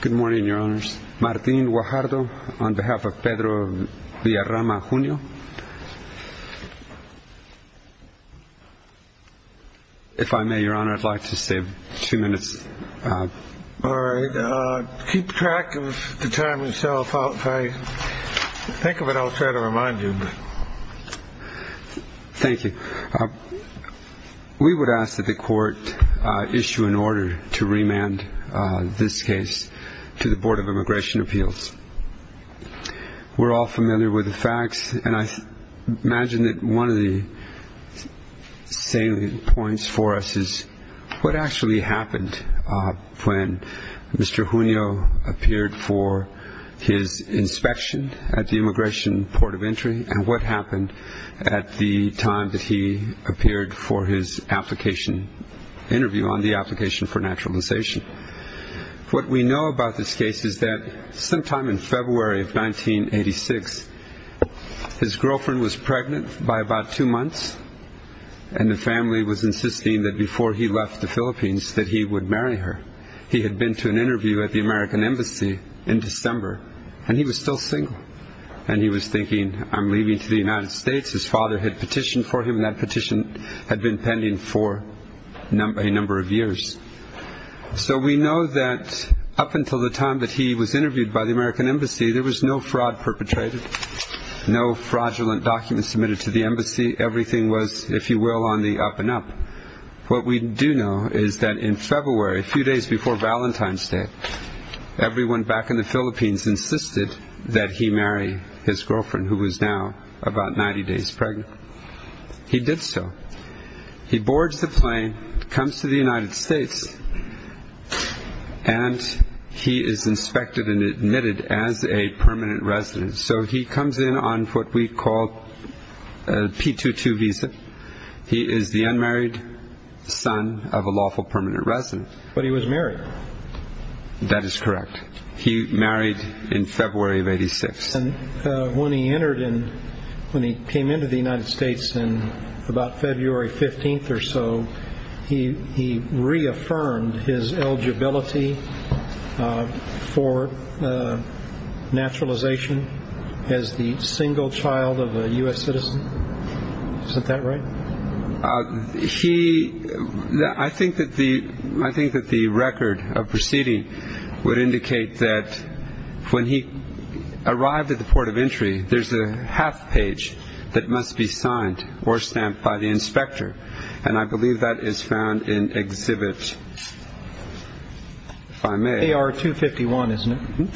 Good morning, Your Honors. Martin Guajardo on behalf of Pedro Villarrama Junio. If I may, Your Honor, I'd like to save two minutes. All right. Keep track of the time yourself. If I think of it, I'll try to remind you. Thank you. We would ask that the Court issue an order to remand this case to the Board of Immigration Appeals. We're all familiar with the facts, and I imagine that one of the salient points for us is what actually happened when Mr. Junio appeared for his inspection at the Immigration Port of Entry, and what happened at the time that he appeared for his application interview on the application for naturalization. What we know about this case is that sometime in February of 1986, his girlfriend was pregnant by about two months, and the family was insisting that before he left the Philippines that he would marry her. He had been to an interview at the American Embassy in December, and he was still single. And he was thinking, I'm leaving to the United States. His father had petitioned for him, and that petition had been pending for a number of years. So we know that up until the time that he was interviewed by the American Embassy, there was no fraud perpetrated, no fraudulent documents submitted to the Embassy. Everything was, if you will, on the up and up. What we do know is that in February, a few days before Valentine's Day, everyone back in the Philippines insisted that he marry his girlfriend, who was now about 90 days pregnant. He did so. He boards the plane, comes to the United States, and he is inspected and admitted as a permanent resident. So he comes in on what we call a P-2-2 visa. He is the unmarried son of a lawful permanent resident. But he was married. That is correct. He married in February of 1986. And when he entered and when he came into the United States in about February 15th or so, he reaffirmed his eligibility for naturalization as the single child of a U.S. citizen. Isn't that right? I think that the record of proceeding would indicate that when he arrived at the port of entry, there is a half page that must be signed or stamped by the inspector. And I believe that is found in Exhibit 5A. AR 251, isn't it?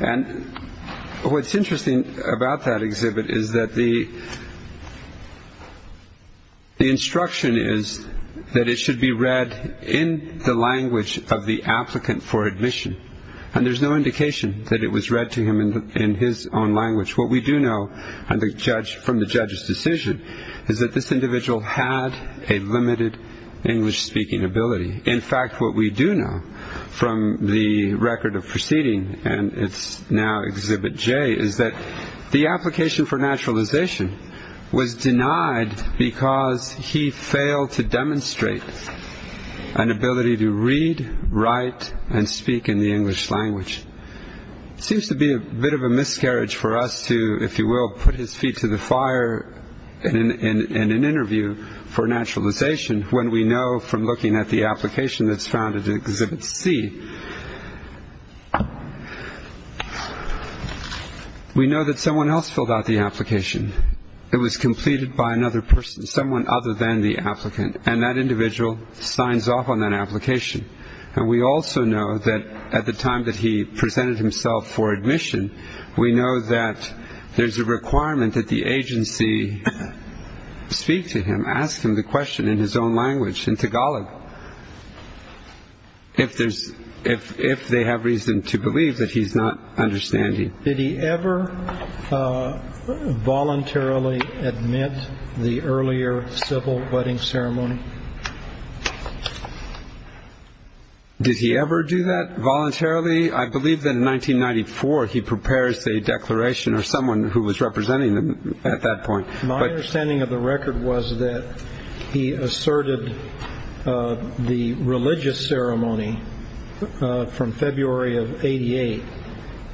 And what is interesting about that exhibit is that the instruction is that it should be read in the language of the applicant for admission. And there is no indication that it was read to him in his own language. What we do know from the judge's decision is that this individual had a limited English speaking ability. In fact, what we do know from the record of proceeding, and it is now Exhibit J, is that the application for naturalization was denied because he failed to demonstrate an ability to read, write, and speak in the English language. It seems to be a bit of a miscarriage for us to, if you will, put his feet to the fire in an interview for naturalization when we know from looking at the application that is found in Exhibit C, we know that someone else filled out the application. It was completed by another person, someone other than the applicant, and that individual signs off on that application. And we also know that at the time that he presented himself for admission, we know that there's a requirement that the agency speak to him, ask him the question in his own language, in Tagalog, if they have reason to believe that he's not understanding. Did he ever voluntarily admit the earlier civil wedding ceremony? Did he ever do that voluntarily? I believe that in 1994 he prepares a declaration or someone who was representing him at that point. My understanding of the record was that he asserted the religious ceremony from February of 88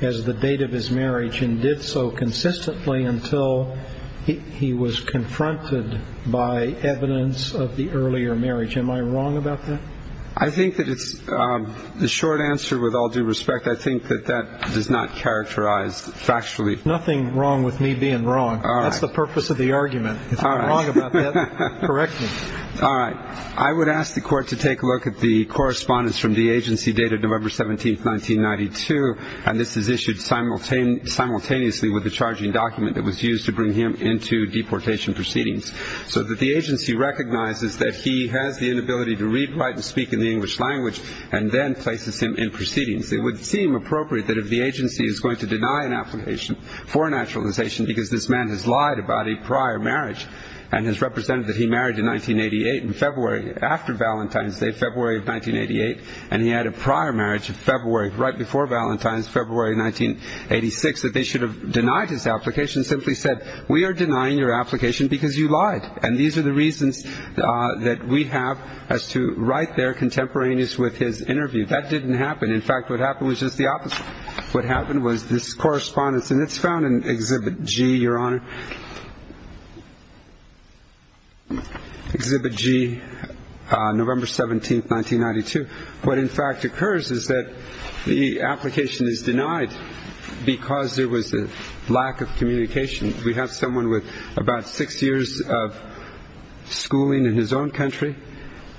as the date of his marriage and did so consistently until he was confronted by evidence of the earlier marriage. Am I wrong about that? I think that it's a short answer with all due respect. I think that that does not characterize factually. Nothing wrong with me being wrong. All right. That's the purpose of the argument. If I'm wrong about that, correct me. All right. I would ask the Court to take a look at the correspondence from the agency dated November 17, 1992, and this is issued simultaneously with the charging document that was used to bring him into deportation proceedings, so that the agency recognizes that he has the inability to read, write, and speak in the English language and then places him in proceedings. It would seem appropriate that if the agency is going to deny an application for a naturalization because this man has lied about a prior marriage and has represented that he married in 1988 in February after Valentine's Day, February of 1988, and he had a prior marriage right before Valentine's, February of 1986, that they should have denied his application and simply said, we are denying your application because you lied, and these are the reasons that we have as to write their contemporaneous with his interview. That didn't happen. In fact, what happened was just the opposite. What happened was this correspondence, and it's found in Exhibit G, Your Honor, Exhibit G, November 17, 1992. What, in fact, occurs is that the application is denied because there was a lack of communication. We have someone with about six years of schooling in his own country,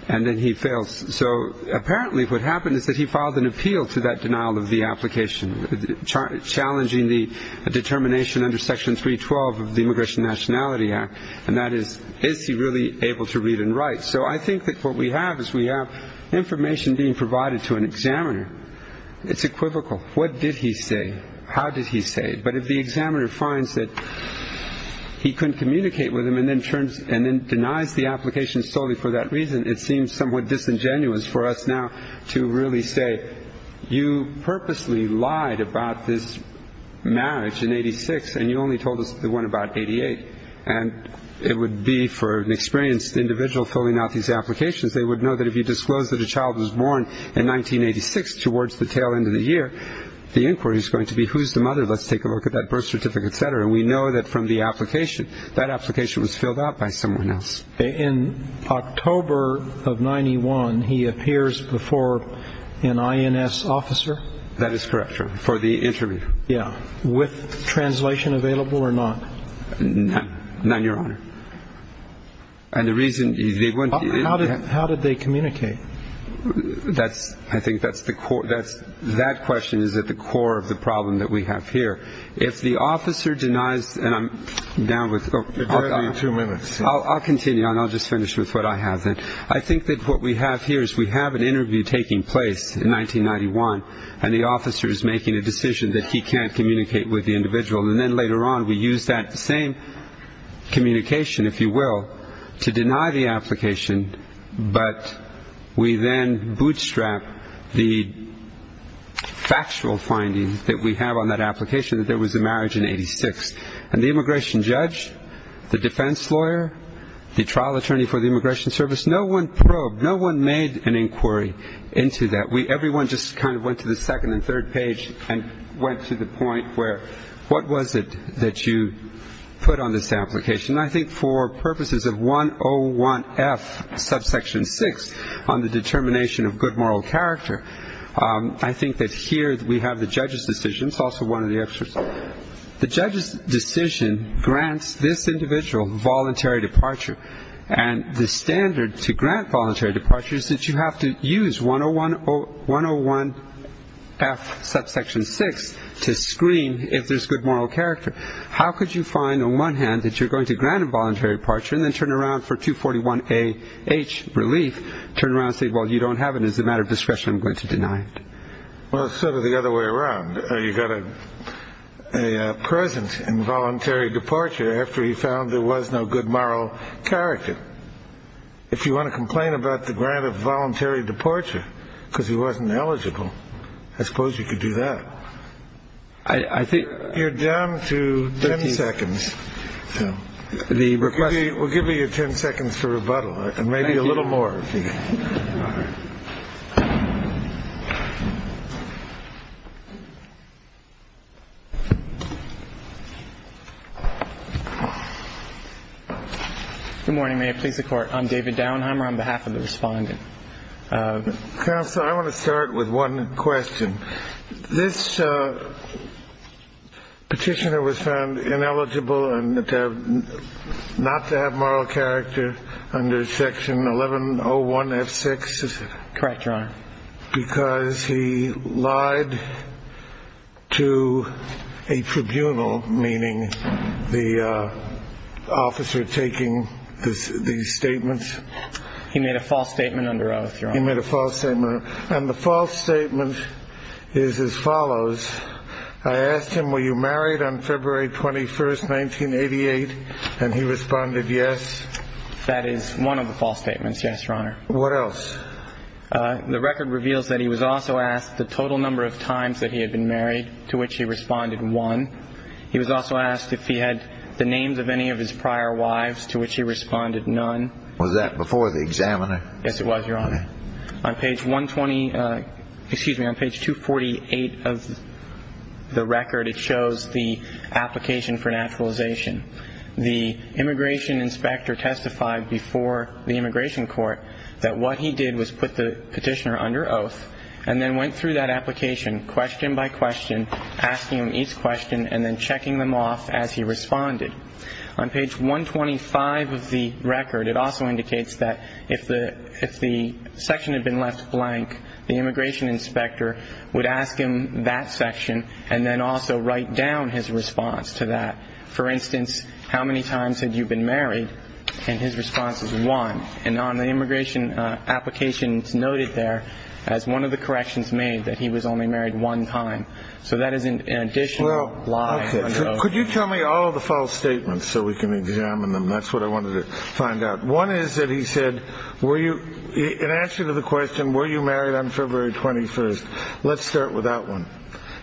and then he fails. So apparently what happened is that he filed an appeal to that denial of the application, challenging the determination under Section 312 of the Immigration and Nationality Act, and that is, is he really able to read and write? So I think that what we have is we have information being provided to an examiner. It's equivocal. What did he say? How did he say it? But if the examiner finds that he couldn't communicate with him and then turns and then denies the application solely for that reason, it seems somewhat disingenuous for us now to really say you purposely lied about this marriage in 86, and you only told us the one about 88, and it would be for an experienced individual filling out these applications. They would know that if you disclose that a child was born in 1986 towards the tail end of the year, the inquiry is going to be who's the mother? Let's take a look at that birth certificate, et cetera. And we know that from the application, that application was filled out by someone else. In October of 91, he appears before an INS officer? That is correct, for the interview. Yeah. With translation available or not? None, Your Honor. And the reason they went to INS? How did they communicate? I think that's the core. That question is at the core of the problem that we have here. If the officer denies, and I'm down withó You have two minutes. I'll continue, and I'll just finish with what I have then. I think that what we have here is we have an interview taking place in 1991, and the officer is making a decision that he can't communicate with the individual, and then later on we use that same communication, if you will, to deny the application, but we then bootstrap the factual findings that we have on that application, that there was a marriage in 1986. And the immigration judge, the defense lawyer, the trial attorney for the Immigration Service, no one probed, no one made an inquiry into that. Everyone just kind of went to the second and third page and went to the point where what was it that you put on this application? I think for purposes of 101F, subsection 6, on the determination of good moral character, I think that here we have the judge's decision. It's also one of the extras. The judge's decision grants this individual voluntary departure, and the standard to grant voluntary departure is that you have to use 101F, subsection 6, to screen if there's good moral character. How could you find on one hand that you're going to grant a voluntary departure and then turn around for 241H relief, turn around and say, well, you don't have it, as a matter of discretion I'm going to deny it? Well, sort of the other way around. You got a present involuntary departure after he found there was no good moral character. If you want to complain about the grant of voluntary departure because he wasn't eligible, I suppose you could do that. You're down to ten seconds. We'll give you ten seconds for rebuttal and maybe a little more. All right. Good morning. May it please the Court. I'm David Downheimer on behalf of the Respondent. Counsel, I want to start with one question. This petitioner was found ineligible not to have moral character under section 1101F6. Correct, Your Honor. Because he lied to a tribunal, meaning the officer taking these statements. He made a false statement under oath, Your Honor. He made a false statement. And the false statement is as follows. I asked him, were you married on February 21st, 1988? And he responded yes. That is one of the false statements, yes, Your Honor. What else? The record reveals that he was also asked the total number of times that he had been married, to which he responded one. He was also asked if he had the names of any of his prior wives, to which he responded none. Was that before the examiner? Yes, it was, Your Honor. On page 120, excuse me, on page 248 of the record, it shows the application for naturalization. The immigration inspector testified before the immigration court that what he did was put the petitioner under oath and then went through that application question by question, asking him each question and then checking them off as he responded. On page 125 of the record, it also indicates that if the section had been left blank, the immigration inspector would ask him that section and then also write down his response to that. For instance, how many times had you been married? And his response was one. And on the immigration application, it's noted there, as one of the corrections made, that he was only married one time. So that is an additional lie under oath. Could you tell me all the false statements so we can examine them? That's what I wanted to find out. One is that he said, were you in answer to the question, were you married on February 21st? Let's start with that one.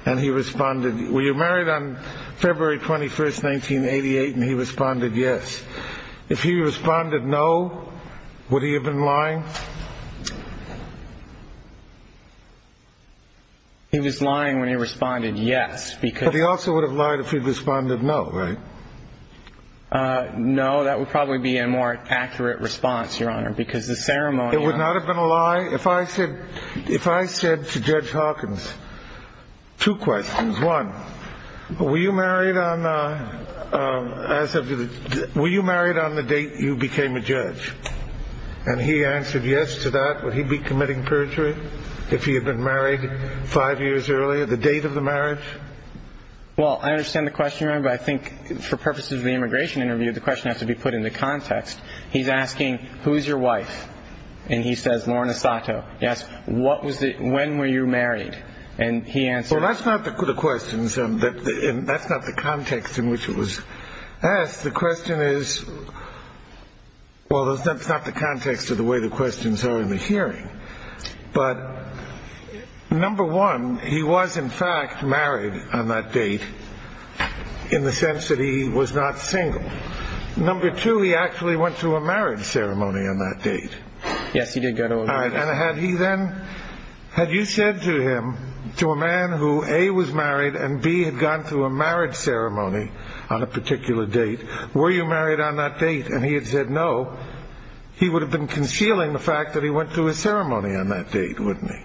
And he responded, were you married on February 21st, 1988? And he responded, yes. If he responded no, would he have been lying? He was lying when he responded yes. But he also would have lied if he responded no, right? No, that would probably be a more accurate response, Your Honor, because the ceremony. It would not have been a lie if I said to Judge Hawkins two questions. One, were you married on the date you became a judge? And he answered yes to that. Would he be committing perjury if he had been married five years earlier? The date of the marriage? Well, I understand the question, Your Honor, but I think for purposes of the immigration interview, the question has to be put into context. He's asking, who is your wife? And he says, Lorna Sato. He asks, when were you married? And he answered. Well, that's not the questions, and that's not the context in which it was asked. The question is, well, that's not the context of the way the questions are in the hearing. But, number one, he was, in fact, married on that date in the sense that he was not single. Number two, he actually went to a marriage ceremony on that date. Yes, he did go to a marriage ceremony. And had he then, had you said to him, to a man who A, was married, and B, had gone to a marriage ceremony on a particular date, were you married on that date? And he had said no, he would have been concealing the fact that he went to a ceremony on that date, wouldn't he?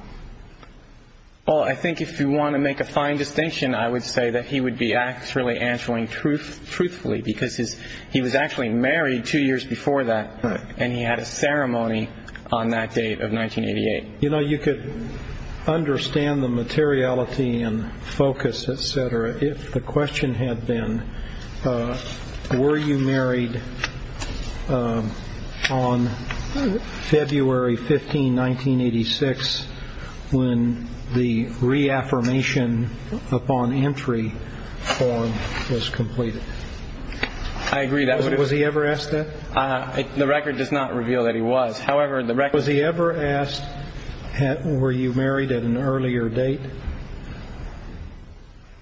Well, I think if you want to make a fine distinction, I would say that he would be actually answering truthfully because he was actually married two years before that, and he had a ceremony on that date of 1988. You know, you could understand the materiality and focus, et cetera, if the question had been, were you married on February 15, 1986, when the reaffirmation upon entry form was completed? I agree. Was he ever asked that? The record does not reveal that he was. However, the record- Was he ever asked, were you married at an earlier date?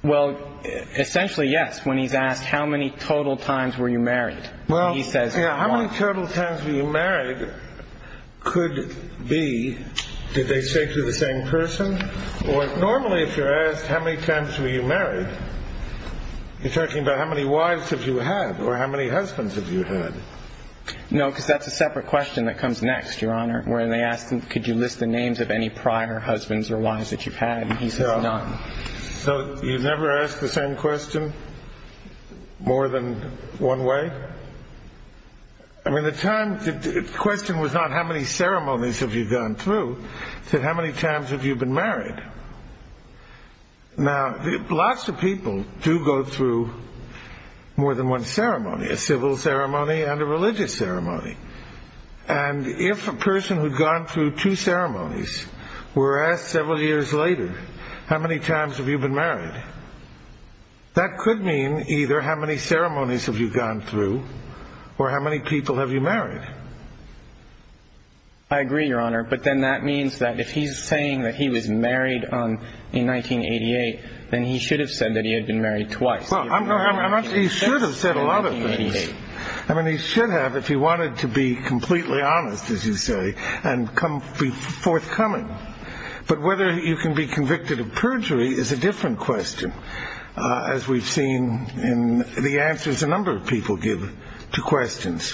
Well, essentially, yes, when he's asked, how many total times were you married? Well, yeah, how many total times were you married could be, did they say to the same person? Normally, if you're asked how many times were you married, you're talking about how many wives have you had or how many husbands have you had. No, because that's a separate question that comes next, Your Honor, where they ask could you list the names of any prior husbands or wives that you've had, and he says none. So you've never asked the same question more than one way? I mean, the question was not how many ceremonies have you gone through, it said how many times have you been married? Now, lots of people do go through more than one ceremony, a civil ceremony and a religious ceremony, and if a person who'd gone through two ceremonies were asked several years later how many times have you been married, that could mean either how many ceremonies have you gone through or how many people have you married. I agree, Your Honor, but then that means that if he's saying that he was married in 1988, then he should have said that he had been married twice. Well, he should have said a lot of things. I mean, he should have if he wanted to be completely honest, as you say, and forthcoming. But whether you can be convicted of perjury is a different question, as we've seen in the answers a number of people give to questions.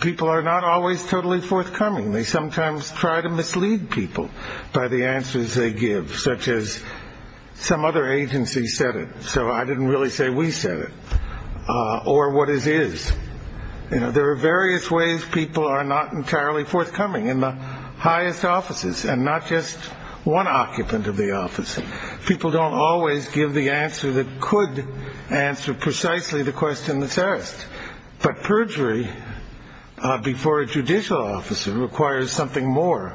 People are not always totally forthcoming. They sometimes try to mislead people by the answers they give, such as some other agency said it, so I didn't really say we said it, or what it is. There are various ways people are not entirely forthcoming in the highest offices and not just one occupant of the office. People don't always give the answer that could answer precisely the question that's asked. But perjury before a judicial officer requires something more.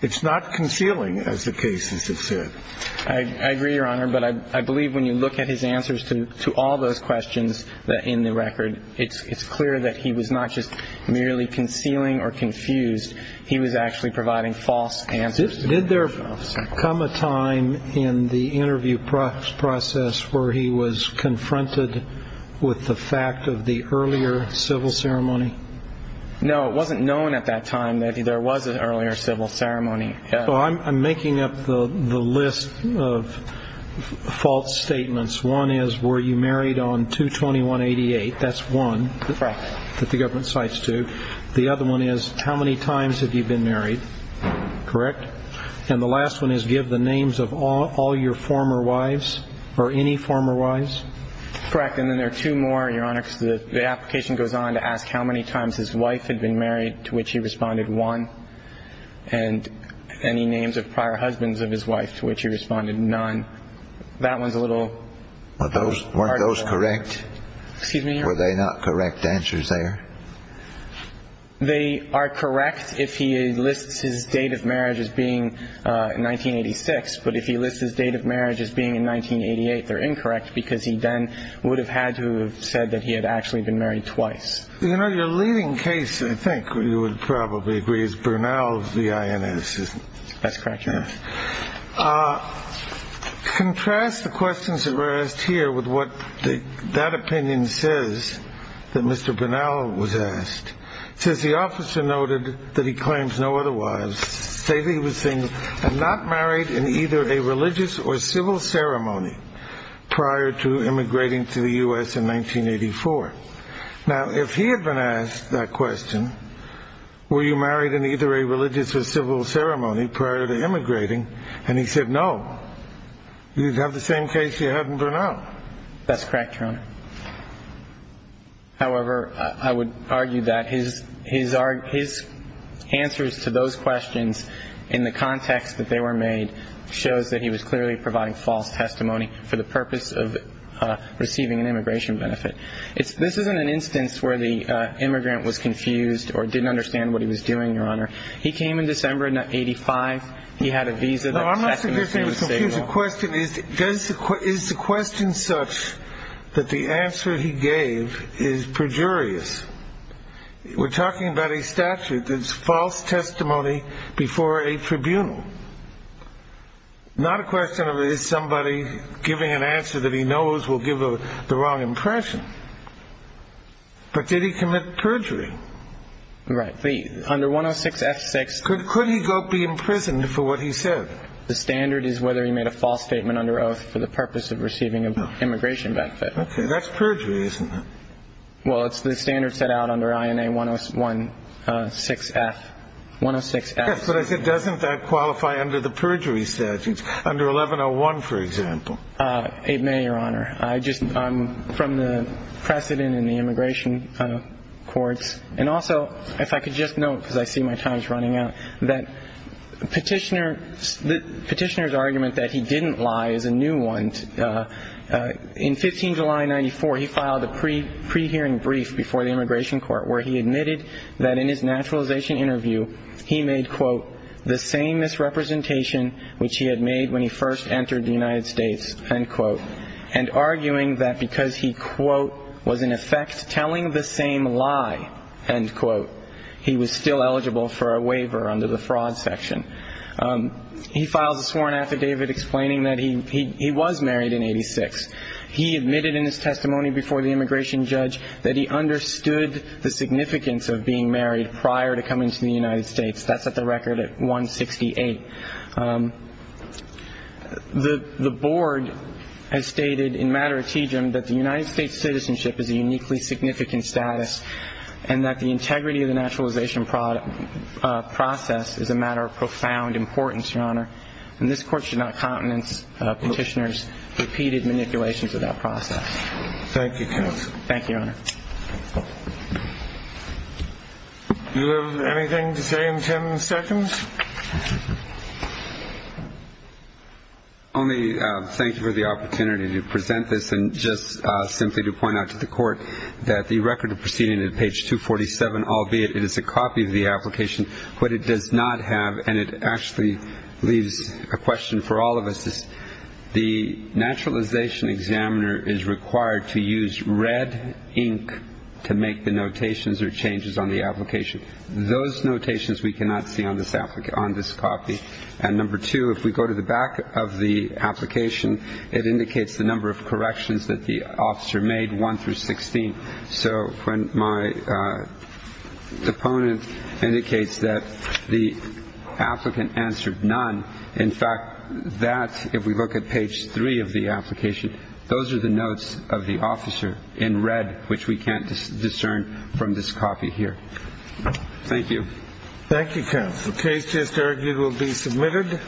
It's not concealing, as the cases have said. I agree, Your Honor, but I believe when you look at his answers to all those questions in the record, it's clear that he was not just merely concealing or confused. He was actually providing false answers. Did there come a time in the interview process where he was confronted with the fact of the earlier civil ceremony? No, it wasn't known at that time that there was an earlier civil ceremony. Well, I'm making up the list of false statements. One is, were you married on 2-21-88? That's one. Correct. That the government cites two. The other one is, how many times have you been married? Correct. And the last one is, give the names of all your former wives or any former wives? Correct, and then there are two more, Your Honor, because the application goes on to ask how many times his wife had been married, to which he responded one. And any names of prior husbands of his wife, to which he responded none. That one's a little harder. Weren't those correct? Excuse me? Were they not correct answers there? They are correct if he lists his date of marriage as being 1986, but if he lists his date of marriage as being in 1988, they're incorrect, because he then would have had to have said that he had actually been married twice. You know, your leading case, I think you would probably agree, is Bernal's, the INS. That's correct, Your Honor. Contrast the questions that were asked here with what that opinion says that Mr. Bernal was asked. It says the officer noted that he claims no other wives, stating he was not married in either a religious or civil ceremony prior to immigrating to the U.S. in 1984. Now, if he had been asked that question, were you married in either a religious or civil ceremony prior to immigrating, and he said no, you'd have the same case you had in Bernal. That's correct, Your Honor. However, I would argue that his answers to those questions in the context that they were made shows that he was clearly providing false testimony for the purpose of receiving an immigration benefit. This isn't an instance where the immigrant was confused or didn't understand what he was doing, Your Honor. He came in December of 1985. He had a visa. No, I'm not saying he was confused. The question is, is the question such that the answer he gave is perjurious? We're talking about a statute that's false testimony before a tribunal, not a question of is somebody giving an answer that he knows will give the wrong impression. But did he commit perjury? Right. Under 106F6. Could he be imprisoned for what he said? The standard is whether he made a false statement under oath for the purpose of receiving an immigration benefit. Okay. That's perjury, isn't it? Well, it's the standard set out under INA 106F. Yes, but it does, in fact, qualify under the perjury statutes, under 1101, for example. It may, Your Honor. I'm from the precedent in the immigration courts. And also, if I could just note, because I see my time is running out, that Petitioner's argument that he didn't lie is a new one. In 15 July 1994, he filed a pre-hearing brief before the immigration court where he admitted that in his naturalization interview he made, quote, the same misrepresentation which he had made when he first entered the United States, end quote, and arguing that because he, quote, was in effect telling the same lie, end quote, he was still eligible for a waiver under the fraud section. He filed a sworn affidavit explaining that he was married in 86. He admitted in his testimony before the immigration judge that he understood the significance of being married prior to coming to the United States. That's at the record at 168. The board has stated in matter of tejum that the United States citizenship is a uniquely significant status and that the integrity of the naturalization process is a matter of profound importance, Your Honor. And this court should not countenance Petitioner's repeated manipulations of that process. Thank you, counsel. Thank you, Your Honor. Do you have anything to say in ten seconds? Only thank you for the opportunity to present this and just simply to point out to the court that the record of proceeding at page 247, albeit it is a copy of the application, but it does not have and it actually leaves a question for all of us. The naturalization examiner is required to use red ink to make the notations or changes on the application. Those notations we cannot see on this copy. And number two, if we go to the back of the application, it indicates the number of corrections that the officer made, one through 16. So when my opponent indicates that the applicant answered none, in fact, that if we look at page three of the application, those are the notes of the officer in red, which we can't discern from this copy here. Thank you. Thank you, counsel. Case just argued will be submitted.